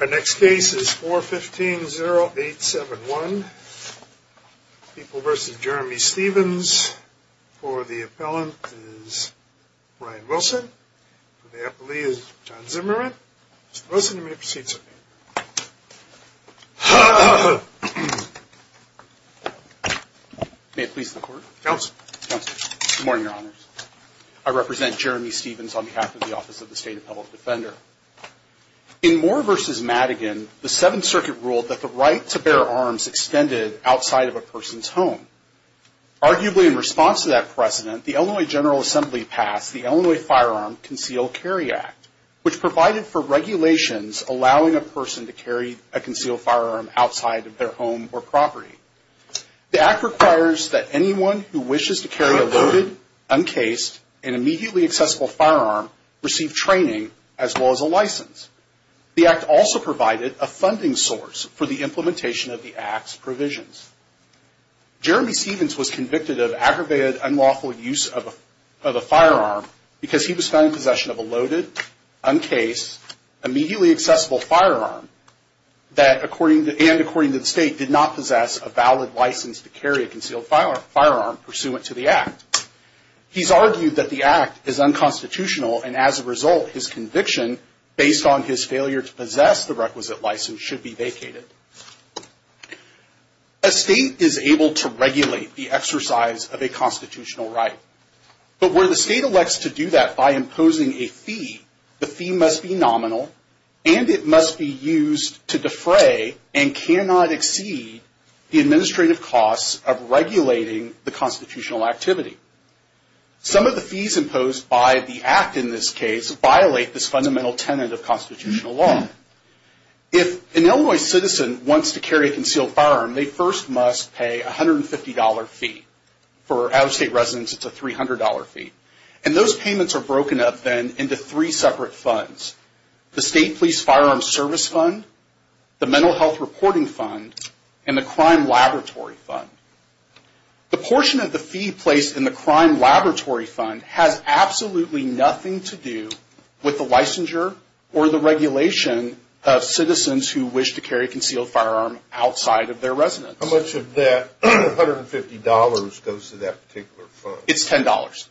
Our next case is 415-0871, People v. Jeremy Stevens. For the appellant is Brian Wilson. For the appellee is John Zimmerman. Mr. Wilson, you may proceed, sir. May it please the Court? Counsel. Counsel. Good morning, Your Honors. I represent Jeremy Stevens on behalf of the Office of the State Appellant Defender. In Moore v. Madigan, the Seventh Circuit ruled that the right to bear arms extended outside of a person's home. Arguably in response to that precedent, the Illinois General Assembly passed the Illinois Firearm Concealed Carry Act, which provided for regulations allowing a person to carry a concealed firearm outside of their home or property. The Act requires that anyone who wishes to carry a loaded, uncased, and immediately accessible firearm receive training as well as a license. The Act also provided a funding source for the implementation of the Act's provisions. Jeremy Stevens was convicted of aggravated unlawful use of a firearm because he was found in possession of a loaded, uncased, immediately accessible firearm and, according to the State, did not possess a valid license to carry a concealed firearm pursuant to the Act. He's argued that the Act is unconstitutional and, as a result, his conviction, based on his failure to possess the requisite license, should be vacated. A State is able to regulate the exercise of a constitutional right. But where the State elects to do that by imposing a fee, the fee must be nominal and it must be used to defray and cannot exceed the administrative costs of regulating the constitutional activity. Some of the fees imposed by the Act in this case violate this fundamental tenet of constitutional law. If an Illinois citizen wants to carry a concealed firearm, they first must pay a $150 fee. For out-of-state residents, it's a $300 fee. And those payments are broken up, then, into three separate funds. The State Police Firearm Service Fund, the Mental Health Reporting Fund, and the Crime Laboratory Fund. The portion of the fee placed in the Crime Laboratory Fund has absolutely nothing to do with the licensure or the regulation of citizens who wish to carry a concealed firearm outside of their residence. How much of that $150 goes to that particular fund? It's $10.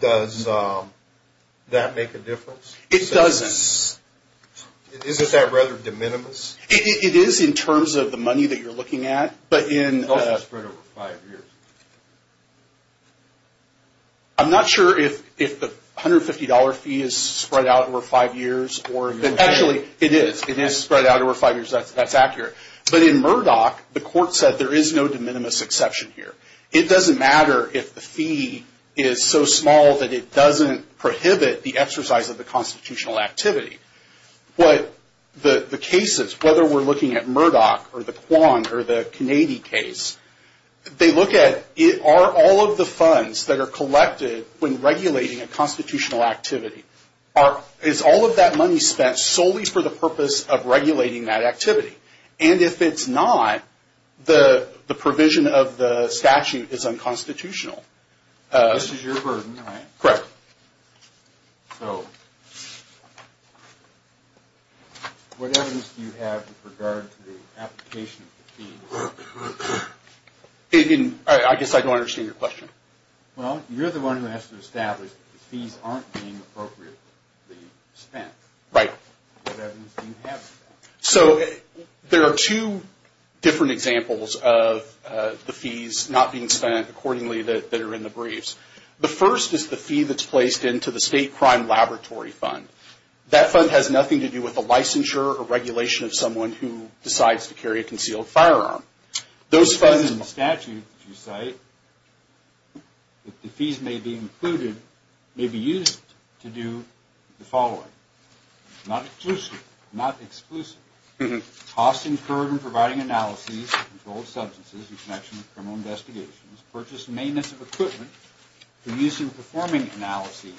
Does that make a difference? It doesn't. Is that rather de minimis? It is in terms of the money that you're looking at. It's also spread over five years. I'm not sure if the $150 fee is spread out over five years. Actually, it is. It is spread out over five years. That's accurate. But in Murdoch, the court said there is no de minimis exception here. It doesn't matter if the fee is so small that it doesn't prohibit the exercise of the constitutional activity. But the cases, whether we're looking at Murdoch or the Quan or the Kanady case, they look at, are all of the funds that are collected when regulating a constitutional activity, is all of that money spent solely for the purpose of regulating that activity? And if it's not, the provision of the statute is unconstitutional. This is your burden, right? Correct. So what evidence do you have with regard to the application of the fee? I guess I don't understand your question. Well, you're the one who has to establish that the fees aren't being appropriately spent. Right. What evidence do you have? So there are two different examples of the fees not being spent accordingly that are in the briefs. The first is the fee that's placed into the State Crime Laboratory Fund. That fund has nothing to do with the licensure or regulation of someone who decides to carry a concealed firearm. Those funds in the statute that you cite, if the fees may be included, may be used to do the following. Not exclusive, not exclusive. Cost incurred in providing analyses of controlled substances in connection with criminal investigations, purchase and maintenance of equipment for use in performing analyses,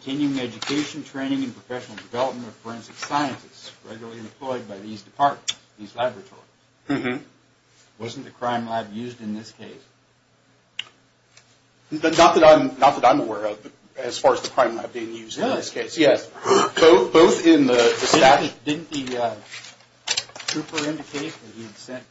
continuing education, training, and professional development of forensic scientists regularly employed by these departments, these laboratories. Wasn't the crime lab used in this case? Not that I'm aware of as far as the crime lab being used in this case. Yes. Both in the statute. Didn't the trooper indicate that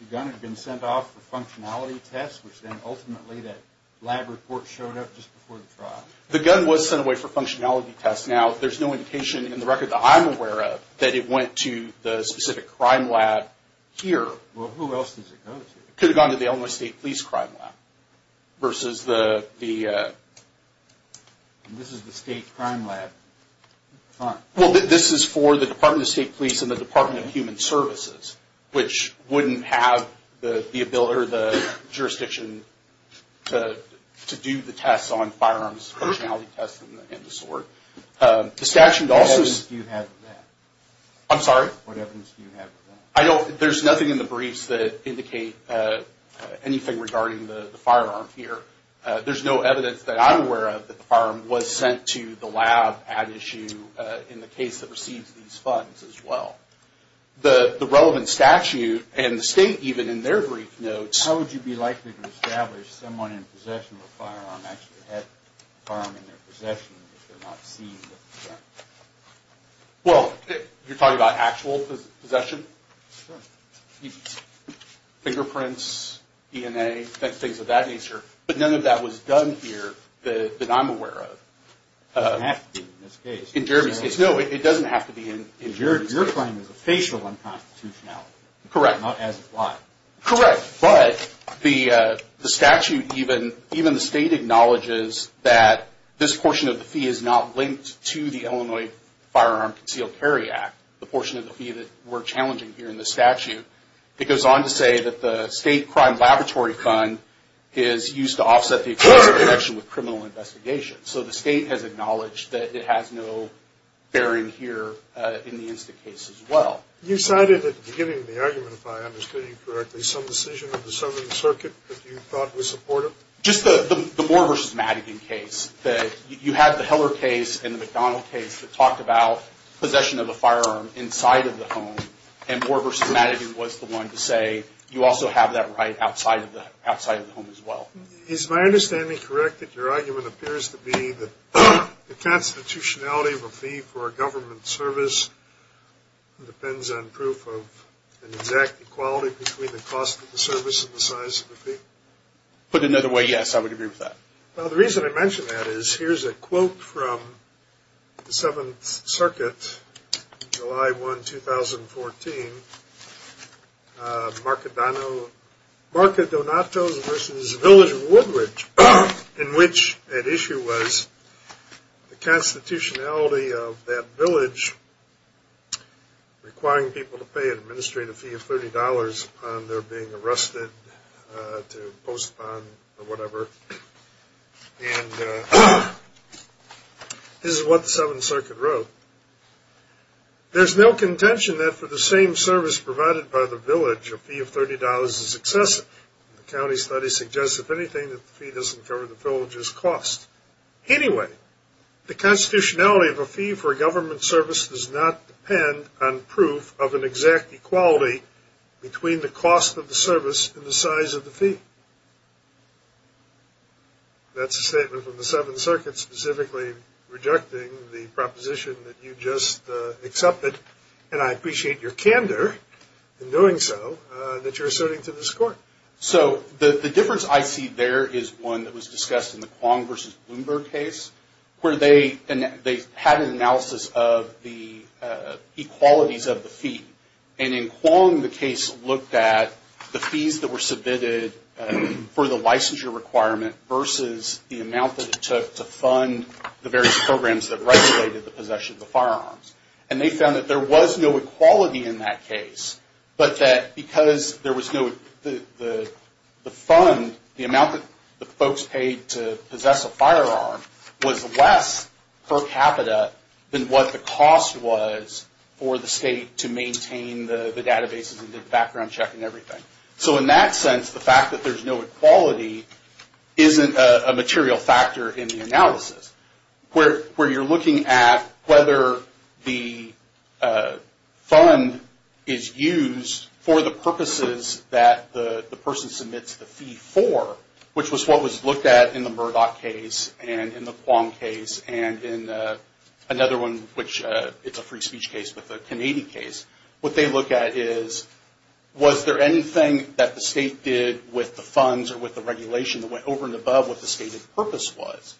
the gun had been sent off for functionality tests, which then ultimately that lab report showed up just before the trial? The gun was sent away for functionality tests. Now, there's no indication in the record that I'm aware of that it went to the specific crime lab here. Well, who else does it go to? It could have gone to the Illinois State Police Crime Lab versus the… This is the State Crime Lab Fund. Well, this is for the Department of State Police and the Department of Human Services, which wouldn't have the ability or the jurisdiction to do the tests on firearms functionality tests and the sort. What evidence do you have of that? I'm sorry? What evidence do you have of that? There's nothing in the briefs that indicate anything regarding the firearm here. There's no evidence that I'm aware of that the firearm was sent to the lab at issue in the case that receives these funds as well. The relevant statute and the state even in their brief notes… How would you be likely to establish someone in possession of a firearm actually had a firearm in their possession if they're not seen with the gun? Well, you're talking about actual possession? Sure. Fingerprints, DNA, things of that nature. But none of that was done here that I'm aware of. It doesn't have to be in this case. No, it doesn't have to be in Jeremy's case. Your claim is a facial unconstitutionality. Correct. Not as implied. Correct. But the statute, even the state acknowledges that this portion of the fee is not linked to the Illinois Firearm Concealed Carry Act, the portion of the fee that we're challenging here in the statute. It goes on to say that the state crime laboratory fund is used to offset the explosive connection with criminal investigations. So the state has acknowledged that it has no bearing here in the Insta case as well. You cited at the beginning of the argument, if I understand you correctly, some decision of the Southern Circuit that you thought was supportive? Just the Moore v. Madigan case. You had the Heller case and the McDonald case that talked about possession of a firearm inside of the home, and Moore v. Madigan was the one to say you also have that right outside of the home as well. Is my understanding correct that your argument appears to be that the constitutionality of a fee for a government service depends on proof of an exact equality between the cost of the service and the size of the fee? Put another way, yes. I would agree with that. Well, the reason I mention that is here's a quote from the Seventh Circuit, July 1, 2014, Marca Donato's v. Village Woodridge, in which at issue was the constitutionality of that village requiring people to pay and this is what the Seventh Circuit wrote. There's no contention that for the same service provided by the village, a fee of $30 is excessive. The county study suggests, if anything, that the fee doesn't cover the village's cost. Anyway, the constitutionality of a fee for a government service does not depend on proof of an exact equality between the cost of the service and the size of the fee. That's a statement from the Seventh Circuit specifically rejecting the proposition that you just accepted, and I appreciate your candor in doing so, that you're asserting to this court. So the difference I see there is one that was discussed in the Quong v. Bloomberg case, where they had an analysis of the equalities of the fee. And in Quong, the case looked at the fees that were submitted for the licensure requirement versus the amount that it took to fund the various programs that regulated the possession of the firearms. And they found that there was no equality in that case, but that because there was no, the fund, the amount that the folks paid to possess a firearm was less per capita than what the cost was for the state to maintain the databases and the background check and everything. So in that sense, the fact that there's no equality isn't a material factor in the analysis. Where you're looking at whether the fund is used for the purposes that the person submits the fee for, which was what was looked at in the Murdoch case and in the Quong case and in another one, which it's a free speech case, but the Kennedy case. What they look at is, was there anything that the state did with the funds or with the regulation that went over and above what the stated purpose was?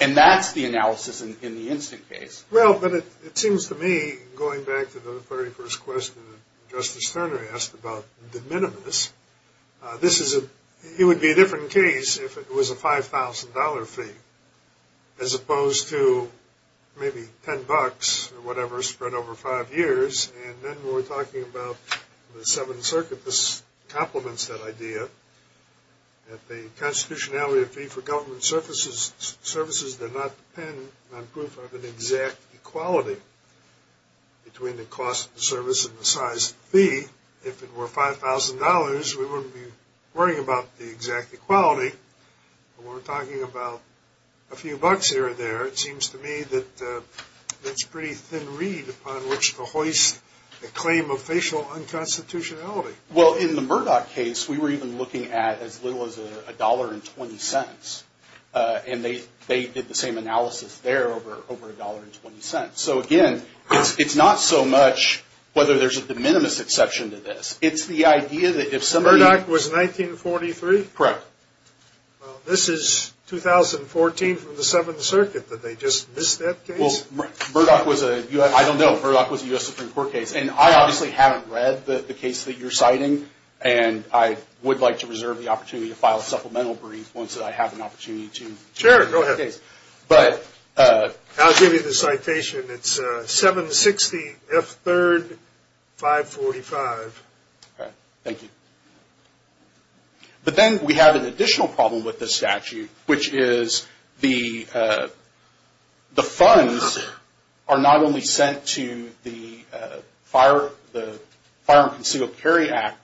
And that's the analysis in the instant case. Well, but it seems to me, going back to the very first question that Justice Sterner asked about the minimus, this is a, it would be a different case if it was a $5,000 fee as opposed to maybe 10 bucks or whatever spread over five years. And then we're talking about the Seventh Circuit that complements that idea, that the constitutionality of fee for government services did not depend on proof of an exact equality between the cost of the service and the size of the fee. If it were $5,000, we wouldn't be worrying about the exact equality. And we're talking about a few bucks here or there. It seems to me that that's a pretty thin reed upon which to hoist a claim of facial unconstitutionality. Well, in the Murdoch case, we were even looking at as little as $1.20. And they did the same analysis there over $1.20. So, again, it's not so much whether there's a de minimis exception to this. It's the idea that if somebody- Murdoch was 1943? Correct. Well, this is 2014 from the Seventh Circuit that they just missed that case? Well, Murdoch was a, I don't know, Murdoch was a U.S. Supreme Court case. And I obviously haven't read the case that you're citing. And I would like to reserve the opportunity to file a supplemental brief once I have an opportunity to- Sure, go ahead. I'll give you the citation. It's 760 F3rd 545. All right. Thank you. But then we have an additional problem with this statute, which is the funds are not only sent to the Fire and Concealed Carry Act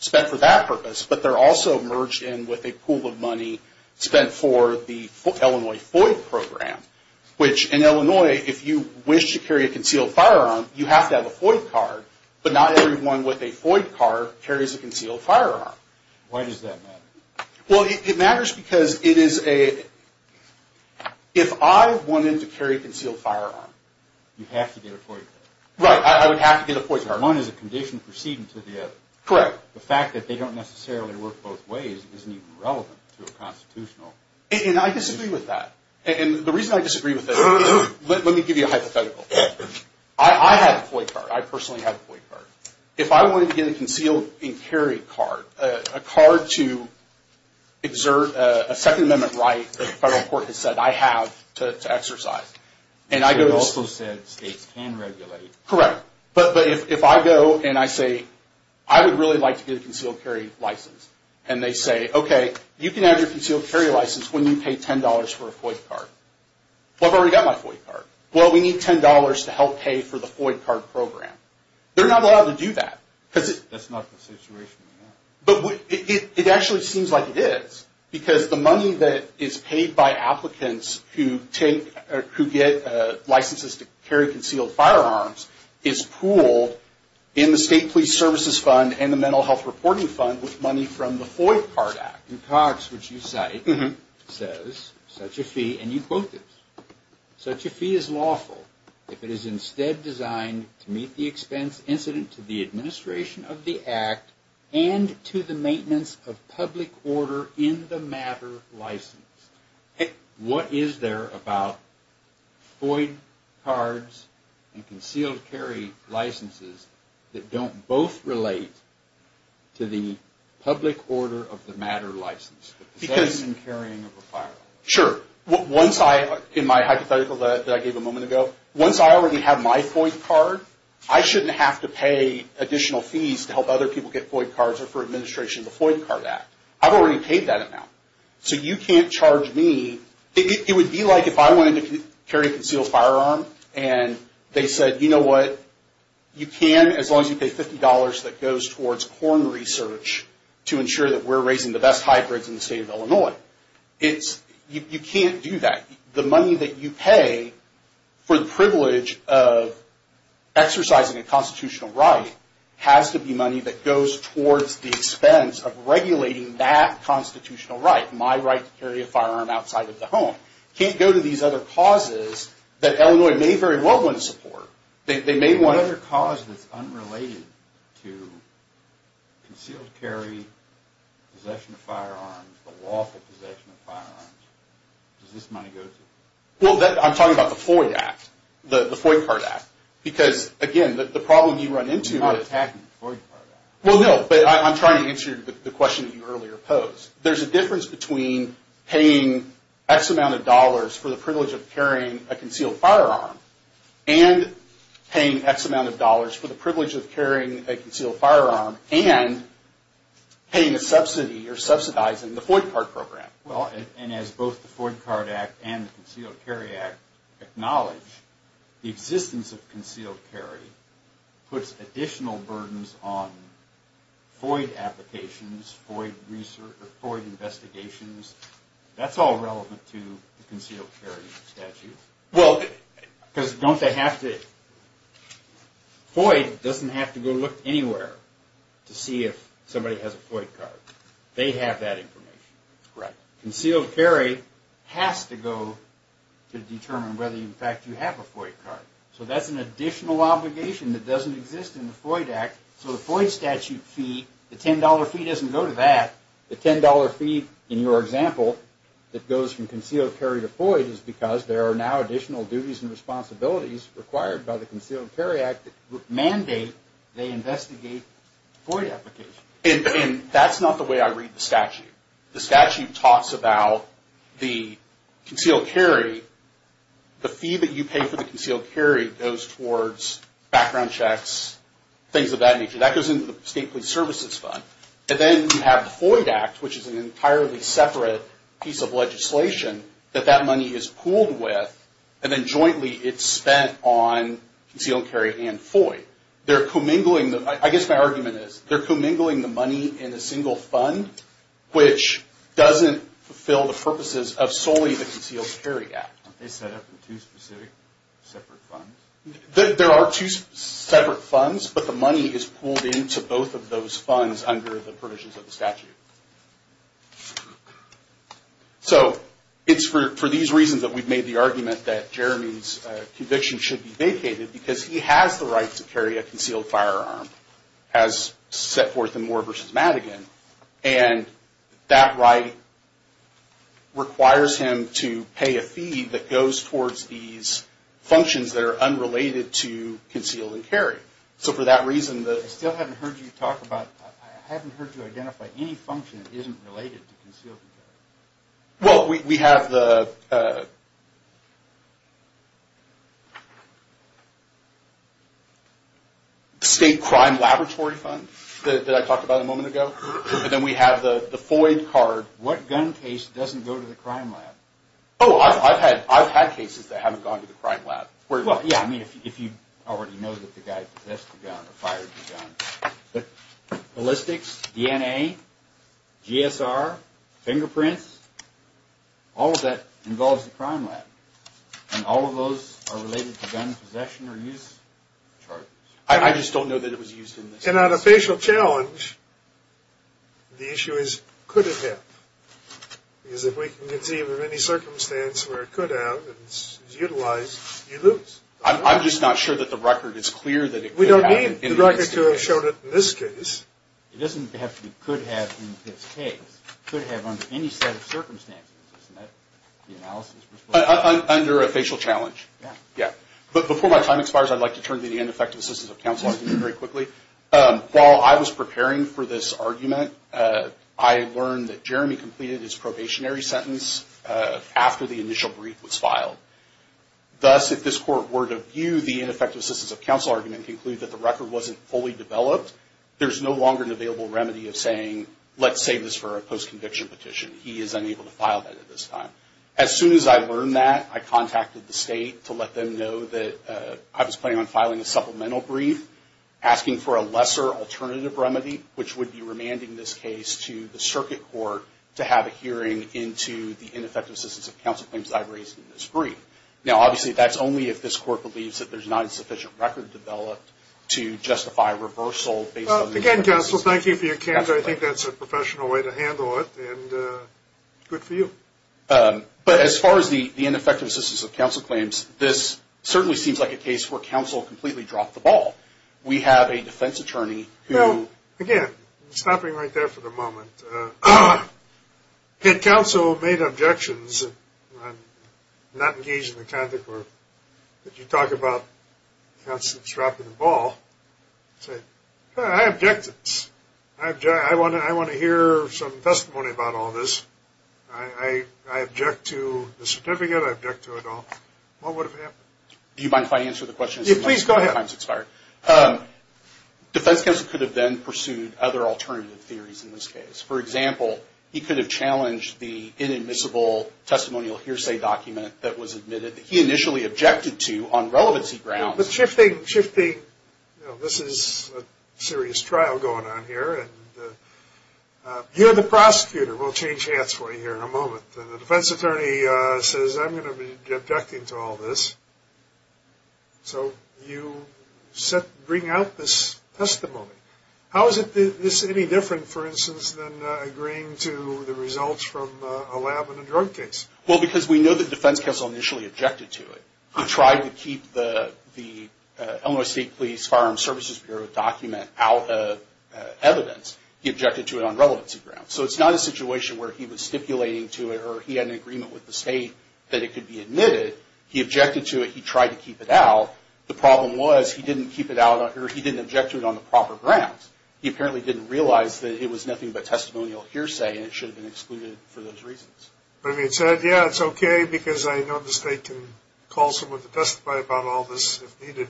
spent for that purpose, but they're also merged in with a pool of money spent for the Illinois FOID program, which in Illinois, if you wish to carry a concealed firearm, you have to have a FOID card. But not everyone with a FOID card carries a concealed firearm. Why does that matter? Well, it matters because it is a- if I wanted to carry a concealed firearm- You have to get a FOID card. Right. I would have to get a FOID card. One is a condition proceeding to the other. Correct. But the fact that they don't necessarily work both ways isn't even relevant to a constitutional- And I disagree with that. And the reason I disagree with that is- let me give you a hypothetical. I have a FOID card. I personally have a FOID card. If I wanted to get a concealed and carry card, a card to exert a Second Amendment right that the federal court has said I have to exercise, and I go- It also said states can regulate. Correct. But if I go and I say, I would really like to get a concealed carry license, and they say, okay, you can have your concealed carry license when you pay $10 for a FOID card. Well, I've already got my FOID card. Well, we need $10 to help pay for the FOID card program. They're not allowed to do that. That's not the situation. But it actually seems like it is because the money that is paid by applicants who get licenses to carry concealed firearms is pooled in the state police services fund and the mental health reporting fund with money from the FOID card act. Cox, which you cite, says, such a fee- and you quote this- Such a fee is lawful if it is instead designed to meet the expense incident to the administration of the act and to the maintenance of public order in the matter license. What is there about FOID cards and concealed carry licenses that don't both relate to the public order of the matter license? The possession and carrying of a firearm. Sure. Once I, in my hypothetical that I gave a moment ago, once I already have my FOID card, I shouldn't have to pay additional fees to help other people get FOID cards or for administration of the FOID card act. I've already paid that amount. So you can't charge me. It would be like if I wanted to carry a concealed firearm and they said, you know what, you can as long as you pay $50 that goes towards corn research to ensure that we're raising the best hybrids in the state of Illinois. You can't do that. The money that you pay for the privilege of exercising a constitutional right has to be money that goes towards the expense of regulating that constitutional right, my right to carry a firearm outside of the home. Can't go to these other causes that Illinois may very well want to support. What other cause that's unrelated to concealed carry, possession of firearms, the lawful possession of firearms, does this money go to? Well, I'm talking about the FOID act, the FOID card act. Because, again, the problem you run into is... We're not attacking the FOID card act. Well, no, but I'm trying to answer the question that you earlier posed. There's a difference between paying X amount of dollars for the privilege of carrying a concealed firearm and paying X amount of dollars for the privilege of carrying a concealed firearm and paying a subsidy or subsidizing the FOID card program. Well, and as both the FOID card act and the concealed carry act acknowledge, the existence of concealed carry puts additional burdens on FOID applications, FOID research, FOID investigations. That's all relevant to the concealed carry statute. Well, because don't they have to... FOID doesn't have to go look anywhere to see if somebody has a FOID card. They have that information. Right. Concealed carry has to go to determine whether, in fact, you have a FOID card. So that's an additional obligation that doesn't exist in the FOID act. So the FOID statute fee, the $10 fee doesn't go to that. The $10 fee in your example that goes from concealed carry to FOID is because there are now additional duties and responsibilities required by the concealed carry act that mandate they investigate FOID applications. And that's not the way I read the statute. The statute talks about the concealed carry. The fee that you pay for the concealed carry goes towards background checks, things of that nature. That goes into the state police services fund. And then you have the FOID act, which is an entirely separate piece of legislation that that money is pooled with, and then jointly it's spent on concealed carry and FOID. I guess my argument is they're commingling the money in a single fund, which doesn't fulfill the purposes of solely the concealed carry act. Aren't they set up in two specific separate funds? There are two separate funds, but the money is pooled into both of those funds under the provisions of the statute. So it's for these reasons that we've made the argument that Jeremy's conviction should be vacated because he has the right to carry a concealed firearm as set forth in Moore v. Madigan. And that right requires him to pay a fee that goes towards these functions that are unrelated to concealed and carry. So for that reason, the – I still haven't heard you talk about – I haven't heard you identify any function that isn't related to concealed and carry. Well, we have the State Crime Laboratory Fund that I talked about a moment ago. And then we have the FOID card. What gun case doesn't go to the crime lab? Oh, I've had cases that haven't gone to the crime lab. Well, yeah, I mean, if you already know that the guy possessed the gun or fired the gun. But ballistics, DNA, GSR, fingerprints, all of that involves the crime lab. And all of those are related to gun possession or use charges. I just don't know that it was used in this case. And on a facial challenge, the issue is could it have? Because if we can conceive of any circumstance where it could have and it's utilized, you lose. I'm just not sure that the record is clear that it could have. We don't need the record to have shown it in this case. It doesn't have to be could have in this case. It could have under any set of circumstances, isn't that the analysis? Under a facial challenge. Yeah. Yeah. But before my time expires, I'd like to turn to the ineffective assistance of counsel. I'll do that very quickly. While I was preparing for this argument, I learned that Jeremy completed his probationary sentence after the initial brief was filed. Thus, if this court were to view the ineffective assistance of counsel argument and conclude that the record wasn't fully developed, there's no longer an available remedy of saying, let's save this for a post-conviction petition. He is unable to file that at this time. As soon as I learned that, I contacted the state to let them know that I was planning on filing a supplemental brief, asking for a lesser alternative remedy, which would be remanding this case to the circuit court to have a hearing into the ineffective assistance of counsel claims I've raised in this brief. Now, obviously, that's only if this court believes that there's not a sufficient record developed to justify reversal. Again, counsel, thank you for your candor. I think that's a professional way to handle it, and good for you. But as far as the ineffective assistance of counsel claims, this certainly seems like a case where counsel completely dropped the ball. We have a defense attorney who- Again, stopping right there for the moment, had counsel made objections and not engaged in the content where you talk about counsel dropping the ball, say, I object to this. I want to hear some testimony about all this. I object to the certificate. I object to it all. What would have happened? Do you mind if I answer the question? Please go ahead. Defense counsel could have then pursued other alternative theories in this case. For example, he could have challenged the inadmissible testimonial hearsay document that was admitted that he initially objected to on relevancy grounds. But shifting, shifting, this is a serious trial going on here, and you're the prosecutor. We'll change hats for you here in a moment. The defense attorney says, I'm going to be objecting to all this. So you bring out this testimony. How is this any different, for instance, than agreeing to the results from a lab and a drug case? Well, because we know that defense counsel initially objected to it. He tried to keep the Illinois State Police Firearm Services Bureau document out of evidence. He objected to it on relevancy grounds. So it's not a situation where he was stipulating to it or he had an agreement with the state that it could be admitted. He objected to it. He tried to keep it out. The problem was he didn't keep it out or he didn't object to it on the proper grounds. He apparently didn't realize that it was nothing but testimonial hearsay and it should have been excluded for those reasons. But it said, yeah, it's okay because I know the state can call someone to testify about all this if needed.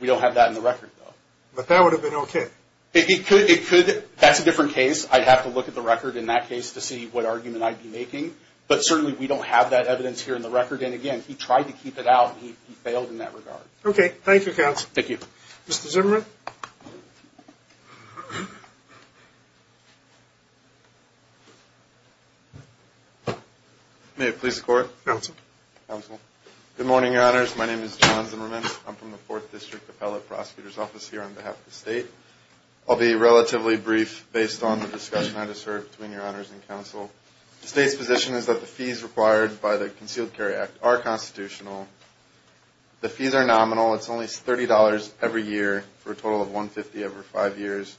We don't have that in the record, though. But that would have been okay. It could. That's a different case. I'd have to look at the record in that case to see what argument I'd be making. But certainly we don't have that evidence here in the record. And, again, he tried to keep it out and he failed in that regard. Okay. Thank you, counsel. Thank you. Mr. Zimmerman? May it please the Court? Counsel. Counsel. Good morning, Your Honors. My name is John Zimmerman. I'm from the Fourth District Appellate Prosecutor's Office here on behalf of the state. I'll be relatively brief based on the discussion I just heard between Your Honors and counsel. The state's position is that the fees required by the Concealed Carry Act are constitutional. The fees are nominal. It's only $30 every year for a total of $150 every five years.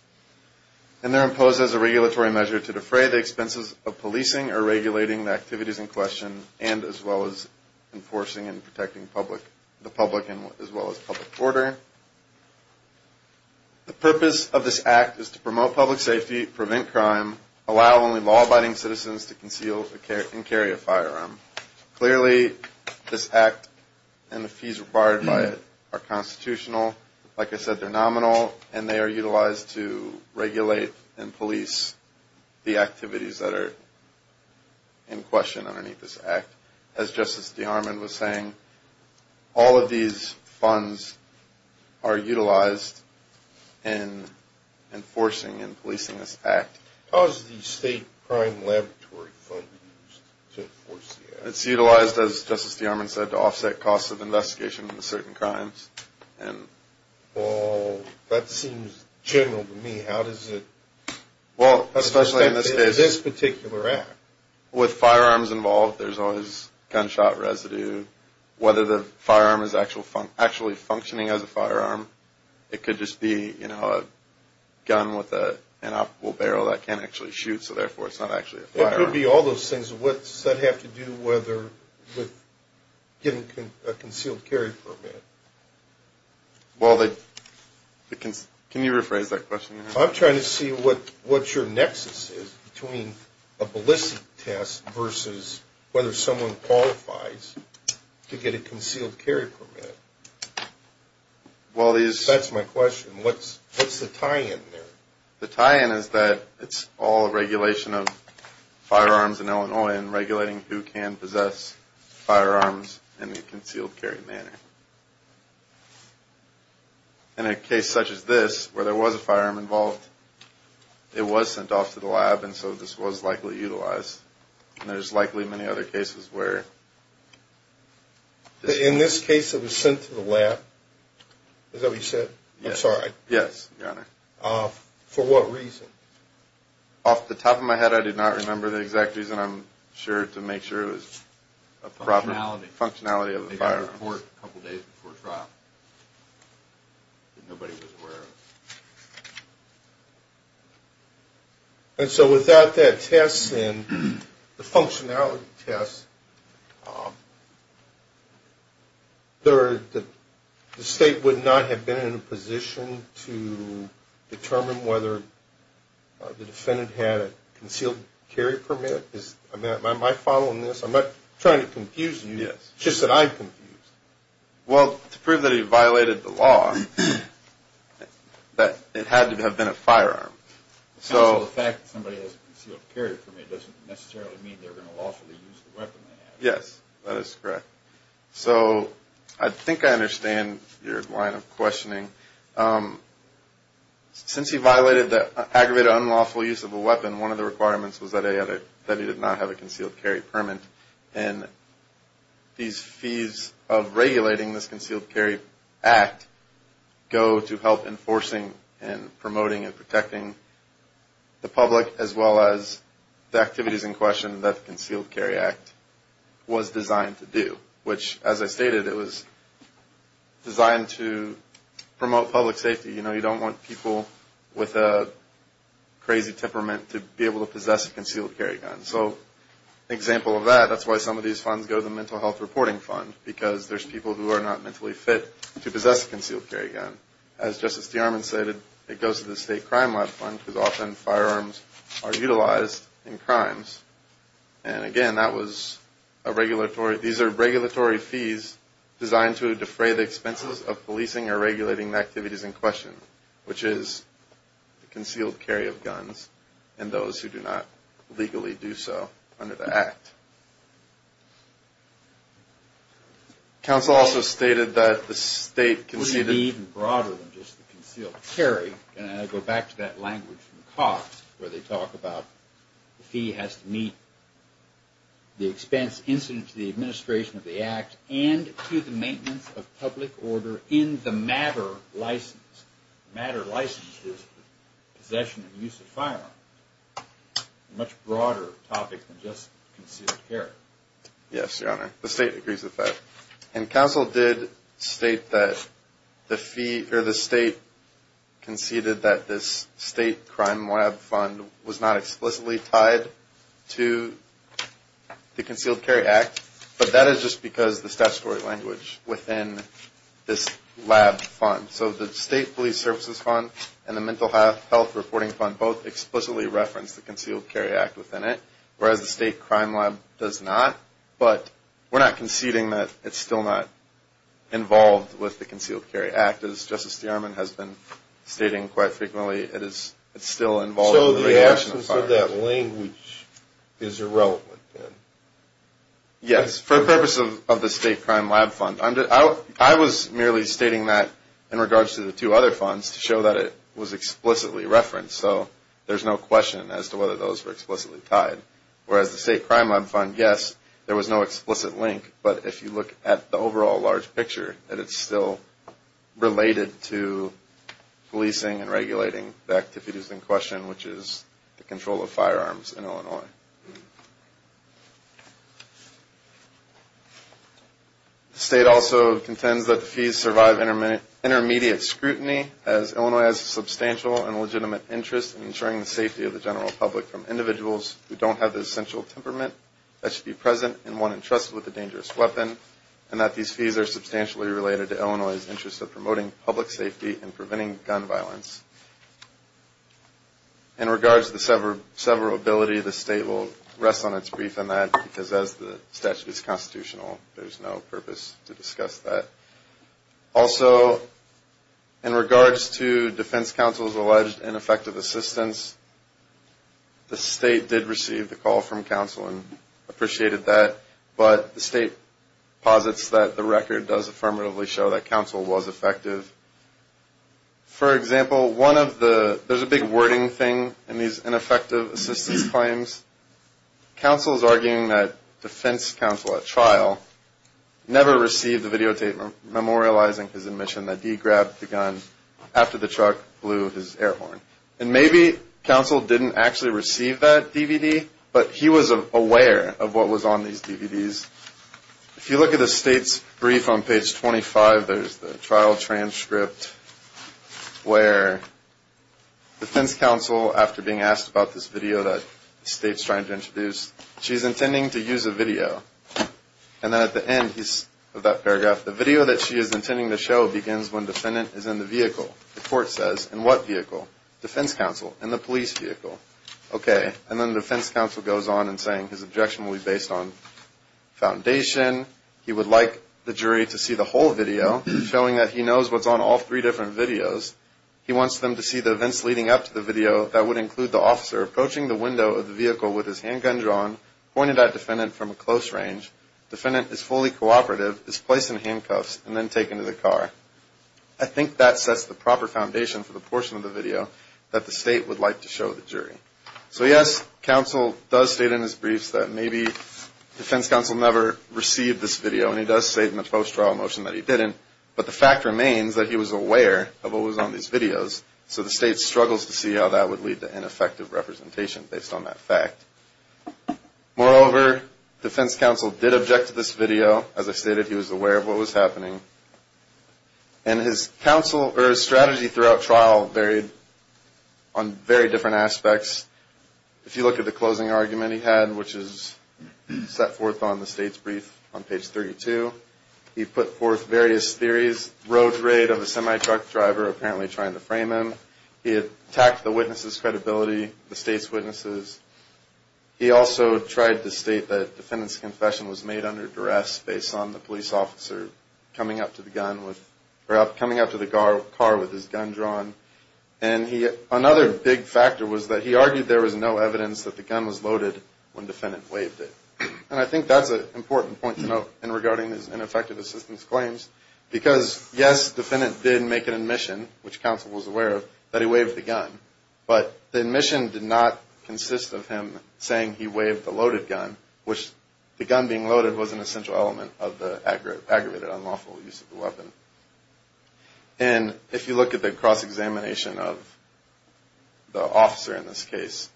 And they're imposed as a regulatory measure to defray the expenses of policing or regulating the activities in question and as well as enforcing and protecting the public as well as public order. The purpose of this act is to promote public safety, prevent crime, allow only law-abiding citizens to conceal and carry a firearm. Clearly this act and the fees required by it are constitutional. Like I said, they're nominal. And they are utilized to regulate and police the activities that are in question underneath this act. As Justice DeArmond was saying, all of these funds are utilized in enforcing and policing this act. How is the State Crime Laboratory Fund used to enforce the act? It's utilized, as Justice DeArmond said, to offset costs of investigation into certain crimes. Well, that seems general to me. How does it affect this particular act? With firearms involved, there's always gunshot residue. Whether the firearm is actually functioning as a firearm. It could just be, you know, a gun with an optical barrel that can't actually shoot, so therefore it's not actually a firearm. It could be all those things. What does that have to do with getting a concealed carry permit? Well, can you rephrase that question? I'm trying to see what your nexus is between a ballistic test versus whether someone qualifies to get a concealed carry permit. That's my question. What's the tie-in there? The tie-in is that it's all regulation of firearms in Illinois and regulating who can possess firearms in a concealed carry manner. In a case such as this, where there was a firearm involved, it was sent off to the lab, and so this was likely utilized. And there's likely many other cases where this is. In this case, it was sent to the lab. Is that what you said? Yes. I'm sorry. Yes, Your Honor. For what reason? Off the top of my head, I do not remember the exact reason. I'm sure to make sure it was a proper functionality of the firearm. It was reported a couple days before trial that nobody was aware of. And so without that test and the functionality test, the State would not have been in a position to determine whether the defendant had a concealed carry permit? Am I following this? I'm not trying to confuse you. Yes. Just that I'm confused. Well, to prove that he violated the law, that it had to have been a firearm. So the fact that somebody has a concealed carry permit doesn't necessarily mean they're going to lawfully use the weapon they have. Yes, that is correct. So I think I understand your line of questioning. Since he violated the aggravated unlawful use of a weapon, one of the requirements was that he did not have a concealed carry permit. And these fees of regulating this Concealed Carry Act go to help enforcing and promoting and protecting the public as well as the activities in question that the Concealed Carry Act was designed to do. Which, as I stated, it was designed to promote public safety. You know, you don't want people with a crazy temperament to be able to possess a concealed carry gun. So an example of that, that's why some of these funds go to the Mental Health Reporting Fund, because there's people who are not mentally fit to possess a concealed carry gun. As Justice DeArmond stated, it goes to the State Crime Lab Fund, because often firearms are utilized in crimes. And, again, that was a regulatory – these are regulatory fees designed to defray the expenses of policing or regulating the activities in question, which is the concealed carry of guns, and those who do not legally do so under the Act. Counsel also stated that the State conceded – Could it be even broader than just the concealed carry? Can I go back to that language from Cox, where they talk about the fee has to meet the expense incident to the administration of the Act and to the maintenance of public order in the matter license. Matter license is possession and use of firearms. A much broader topic than just concealed carry. Yes, Your Honor. The State agrees with that. And Counsel did state that the fee – or the State conceded that this State Crime Lab Fund was not explicitly tied to the Concealed Carry Act, but that is just because of the statutory language within this lab fund. So the State Police Services Fund and the Mental Health Reporting Fund both explicitly reference the Concealed Carry Act within it, whereas the State Crime Lab does not. But we're not conceding that it's still not involved with the Concealed Carry Act. In fact, as Justice DeArmond has been stating quite frequently, it's still involved in the regulation of firearms. So the absence of that language is irrelevant, then? Yes, for the purpose of the State Crime Lab Fund. I was merely stating that in regards to the two other funds to show that it was explicitly referenced. So there's no question as to whether those were explicitly tied. Whereas the State Crime Lab Fund, yes, there was no explicit link. But if you look at the overall large picture, that it's still related to policing and regulating the activities in question, which is the control of firearms in Illinois. The State also contends that the fees survive intermediate scrutiny, as Illinois has a substantial and legitimate interest in ensuring the safety of the general public from individuals who don't have the essential temperament that should be present and one entrusted with a dangerous weapon. And that these fees are substantially related to Illinois' interest of promoting public safety and preventing gun violence. In regards to the severability, the State will rest on its brief on that, because as the statute is constitutional, there's no purpose to discuss that. Also, in regards to Defense Counsel's alleged ineffective assistance, the State did receive the call from counsel and appreciated that. But the State posits that the record does affirmatively show that counsel was effective. For example, one of the, there's a big wording thing in these ineffective assistance claims. Counsel's arguing that defense counsel at trial never received a videotape memorializing his admission that he grabbed the gun after the truck blew his air horn. And maybe counsel didn't actually receive that DVD, but he was aware of what was on these DVDs. If you look at the State's brief on page 25, there's the trial transcript where defense counsel, after being asked about this video that the State's trying to introduce, she's intending to use a video. And then at the end of that paragraph, the video that she is intending to show begins when defendant is in the vehicle. The court says, in what vehicle? Defense counsel, in the police vehicle. Okay, and then defense counsel goes on in saying his objection will be based on foundation. He would like the jury to see the whole video, showing that he knows what's on all three different videos. He wants them to see the events leading up to the video. That would include the officer approaching the window of the vehicle with his handgun drawn, pointing at defendant from a close range. Defendant is fully cooperative, is placed in handcuffs, and then taken to the car. I think that sets the proper foundation for the portion of the video that the State would like to show the jury. So yes, counsel does state in his briefs that maybe defense counsel never received this video, and he does say in the post-trial motion that he didn't. But the fact remains that he was aware of what was on these videos, so the State struggles to see how that would lead to Moreover, defense counsel did object to this video. As I stated, he was aware of what was happening. And his strategy throughout trial varied on very different aspects. If you look at the closing argument he had, which is set forth on the State's brief on page 32, he put forth various theories, road raid of a semi-truck driver apparently trying to frame him. He attacked the witness's credibility, the State's witnesses. He also tried to state that defendant's confession was made under duress based on the police officer coming up to the car with his gun drawn. And another big factor was that he argued there was no evidence that the gun was loaded when defendant waved it. And I think that's an important point to note regarding his ineffective assistance claims. Because, yes, defendant did make an admission, which counsel was aware of, that he waved the gun. But the admission did not consist of him saying he waved the loaded gun, which the gun being loaded was an essential element of the aggravated unlawful use of the weapon. And if you look at the cross-examination of the officer in this case,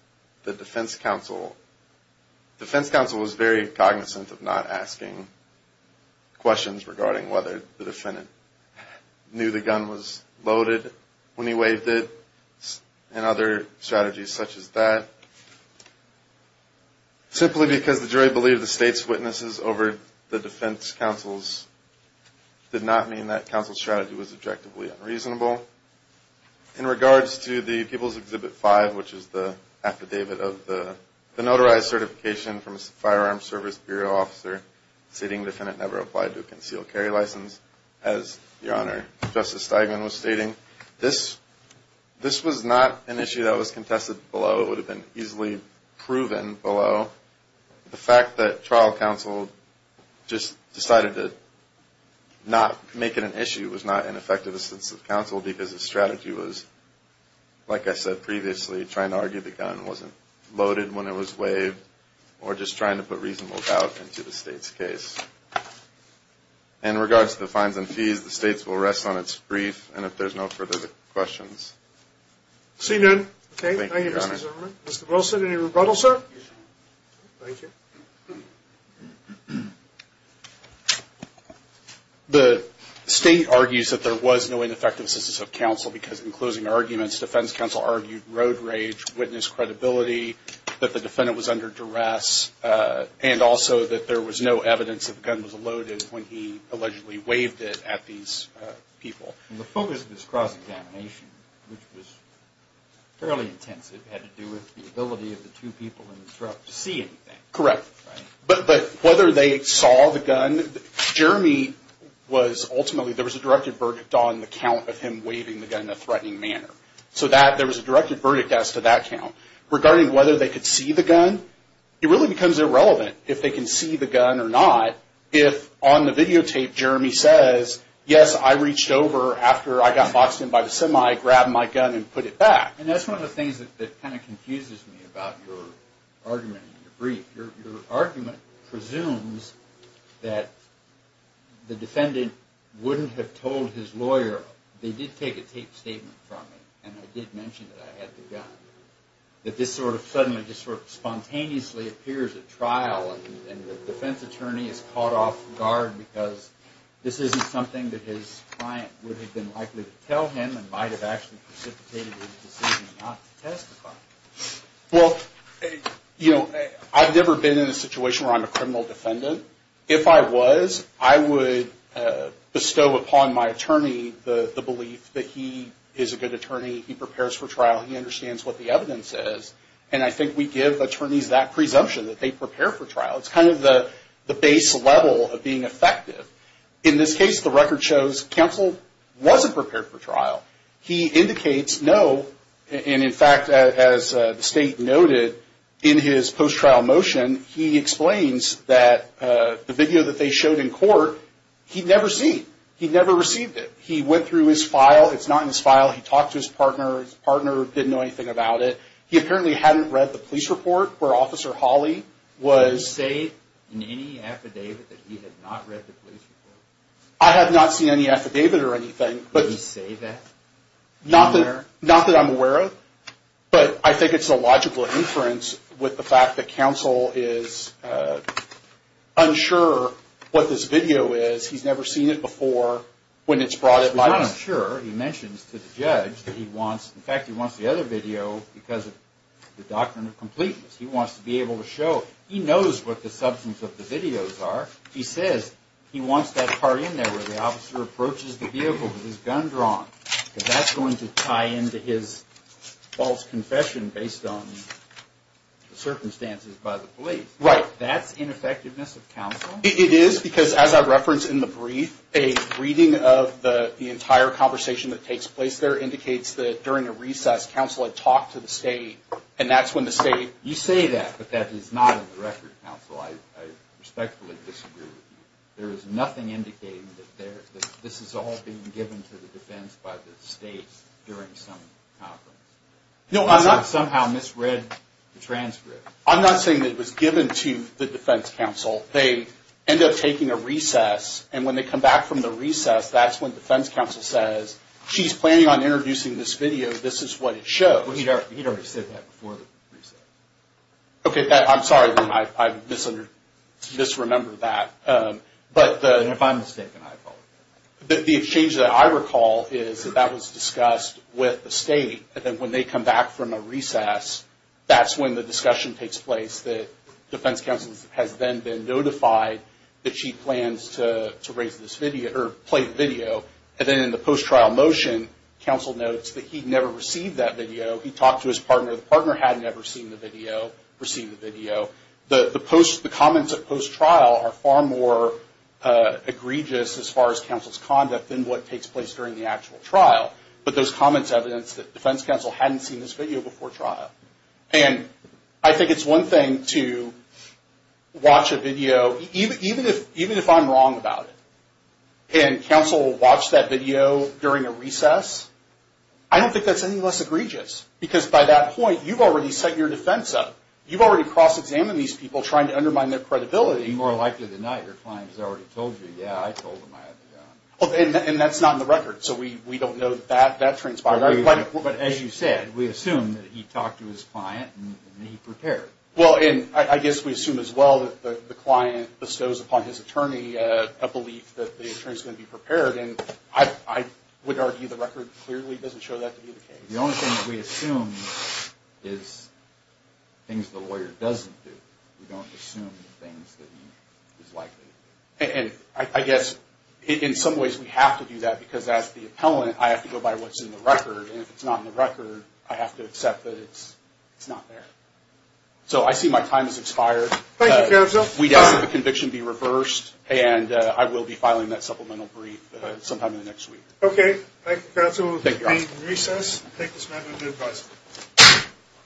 the defense counsel was very cognizant of not asking questions regarding whether the defendant knew the gun was loaded when he waved it and other strategies such as that. Simply because the jury believed the State's witnesses over the defense counsel's did not mean that counsel's strategy was objectively unreasonable. In regards to the People's Exhibit 5, which is the affidavit of the notarized certification from a Firearms Service Bureau officer stating the defendant never applied to a concealed carry license, as Your Honor, Justice Steigman was stating, this was not an issue that was contested below. It would have been easily proven below. The fact that trial counsel just decided to not make it an issue was not an effective assistance of counsel because his strategy was, like I said previously, trying to argue the gun wasn't loaded when it was waved, or just trying to put reasonable doubt into the State's case. In regards to the fines and fees, the State's will rest on its brief, and if there's no further questions. Thank you, Your Honor. The State argues that there was no ineffective assistance of counsel because, in closing arguments, defense counsel argued road rage, witness credibility, that the defendant was under duress, and also that there was no evidence that the gun was loaded when he allegedly waved it at these people. The focus of this cross-examination, which was fairly intensive, had to do with the ability of the two people in the truck to see anything. Correct. But whether they saw the gun, Jeremy was ultimately, there was a directed verdict on the count of him waving the gun in a threatening manner. So there was a directed verdict as to that count. Regarding whether they could see the gun, it really becomes irrelevant if they can see the gun or not, if on the videotape Jeremy says, yes, I reached over after I got boxed in by the semi, grabbed my gun, and put it back. And that's one of the things that kind of confuses me about your argument in your brief. Your argument presumes that the defendant wouldn't have told his lawyer, they did take a taped statement from it, and I did mention that I had the gun, that this sort of suddenly, just sort of spontaneously appears at trial, and the defense attorney is caught off guard because this isn't something that his client would have been likely to tell him, and might have actually precipitated his decision not to testify. Well, you know, I've never been in a situation where I'm a criminal defendant. If I was, I would bestow upon my attorney the belief that he is a good attorney, he prepares for trial, he understands what the evidence is, and I think we give attorneys that presumption that they prepare for trial. It's kind of the base level of being effective. In this case, the record shows Counsel wasn't prepared for trial. He indicates no, and in fact, as the State noted in his post-trial motion, he explains that the video that they showed in court, he'd never seen, he'd never received it. He went through his file, it's not in his file, he talked to his partner, his partner didn't know anything about it. He apparently hadn't read the police report where Officer Hawley was... I have not seen any affidavit or anything. Not that I'm aware of, but I think it's a logical inference with the fact that Counsel is unsure what this video is, he's never seen it before when it's brought in by us. He's not unsure, he mentions to the judge that he wants, in fact, he wants the other video because of the doctrine of completeness. He wants to be able to show, he knows what the substance of the videos are. He says he wants that part in there where the officer approaches the vehicle with his gun drawn, because that's going to tie into his false confession based on the circumstances by the police. That's ineffectiveness of Counsel? It is, because as I referenced in the brief, a reading of the entire conversation that takes place there indicates that during a recess, Counsel had talked to the State, and that's when the State... You say that, but that is not in the record, Counsel. I respectfully disagree with you. There is nothing indicating that this is all being given to the defense by the State during some conference. No, I'm not... I somehow misread the transcript. I'm not saying that it was given to the defense Counsel. They end up taking a recess, and when they come back from the recess, that's when the defense Counsel says, she's planning on introducing this video, this is what it shows. He'd already said that before the recess. I'm sorry, I misremembered that. If I'm mistaken, I apologize. The exchange that I recall is that that was discussed with the State, and then when they come back from a recess, that's when the discussion takes place, that defense Counsel has then been notified that she plans to play the video. Then in the post-trial motion, Counsel notes that he'd never received that video. He talked to his partner. The partner had never seen the video, received the video. The comments at post-trial are far more egregious as far as Counsel's conduct than what takes place during the actual trial. But those comments evidence that defense Counsel hadn't seen this video before trial. I think it's one thing to watch a video, even if I'm wrong about it, and Counsel will watch that video during a recess. I don't think that's any less egregious. Because by that point, you've already set your defense up. You've already cross-examined these people trying to undermine their credibility. And that's not in the record, so we don't know that transpired. But as you said, we assume that he talked to his client and he prepared. Well, and I guess we assume as well that the client bestows upon his attorney a belief that the attorney's going to be prepared. And I would argue the record clearly doesn't show that to be the case. The only thing that we assume is things the lawyer doesn't do. We don't assume the things that he is likely to do. And I guess in some ways we have to do that, because as the appellant, I have to go by what's in the record. And if it's not in the record, I have to accept that it's not there. So I see my time has expired. Thank you, Counsel. We'd ask that the conviction be reversed, and I will be filing that supplemental brief sometime in the next week. Okay. Thank you, Counsel. Thank you.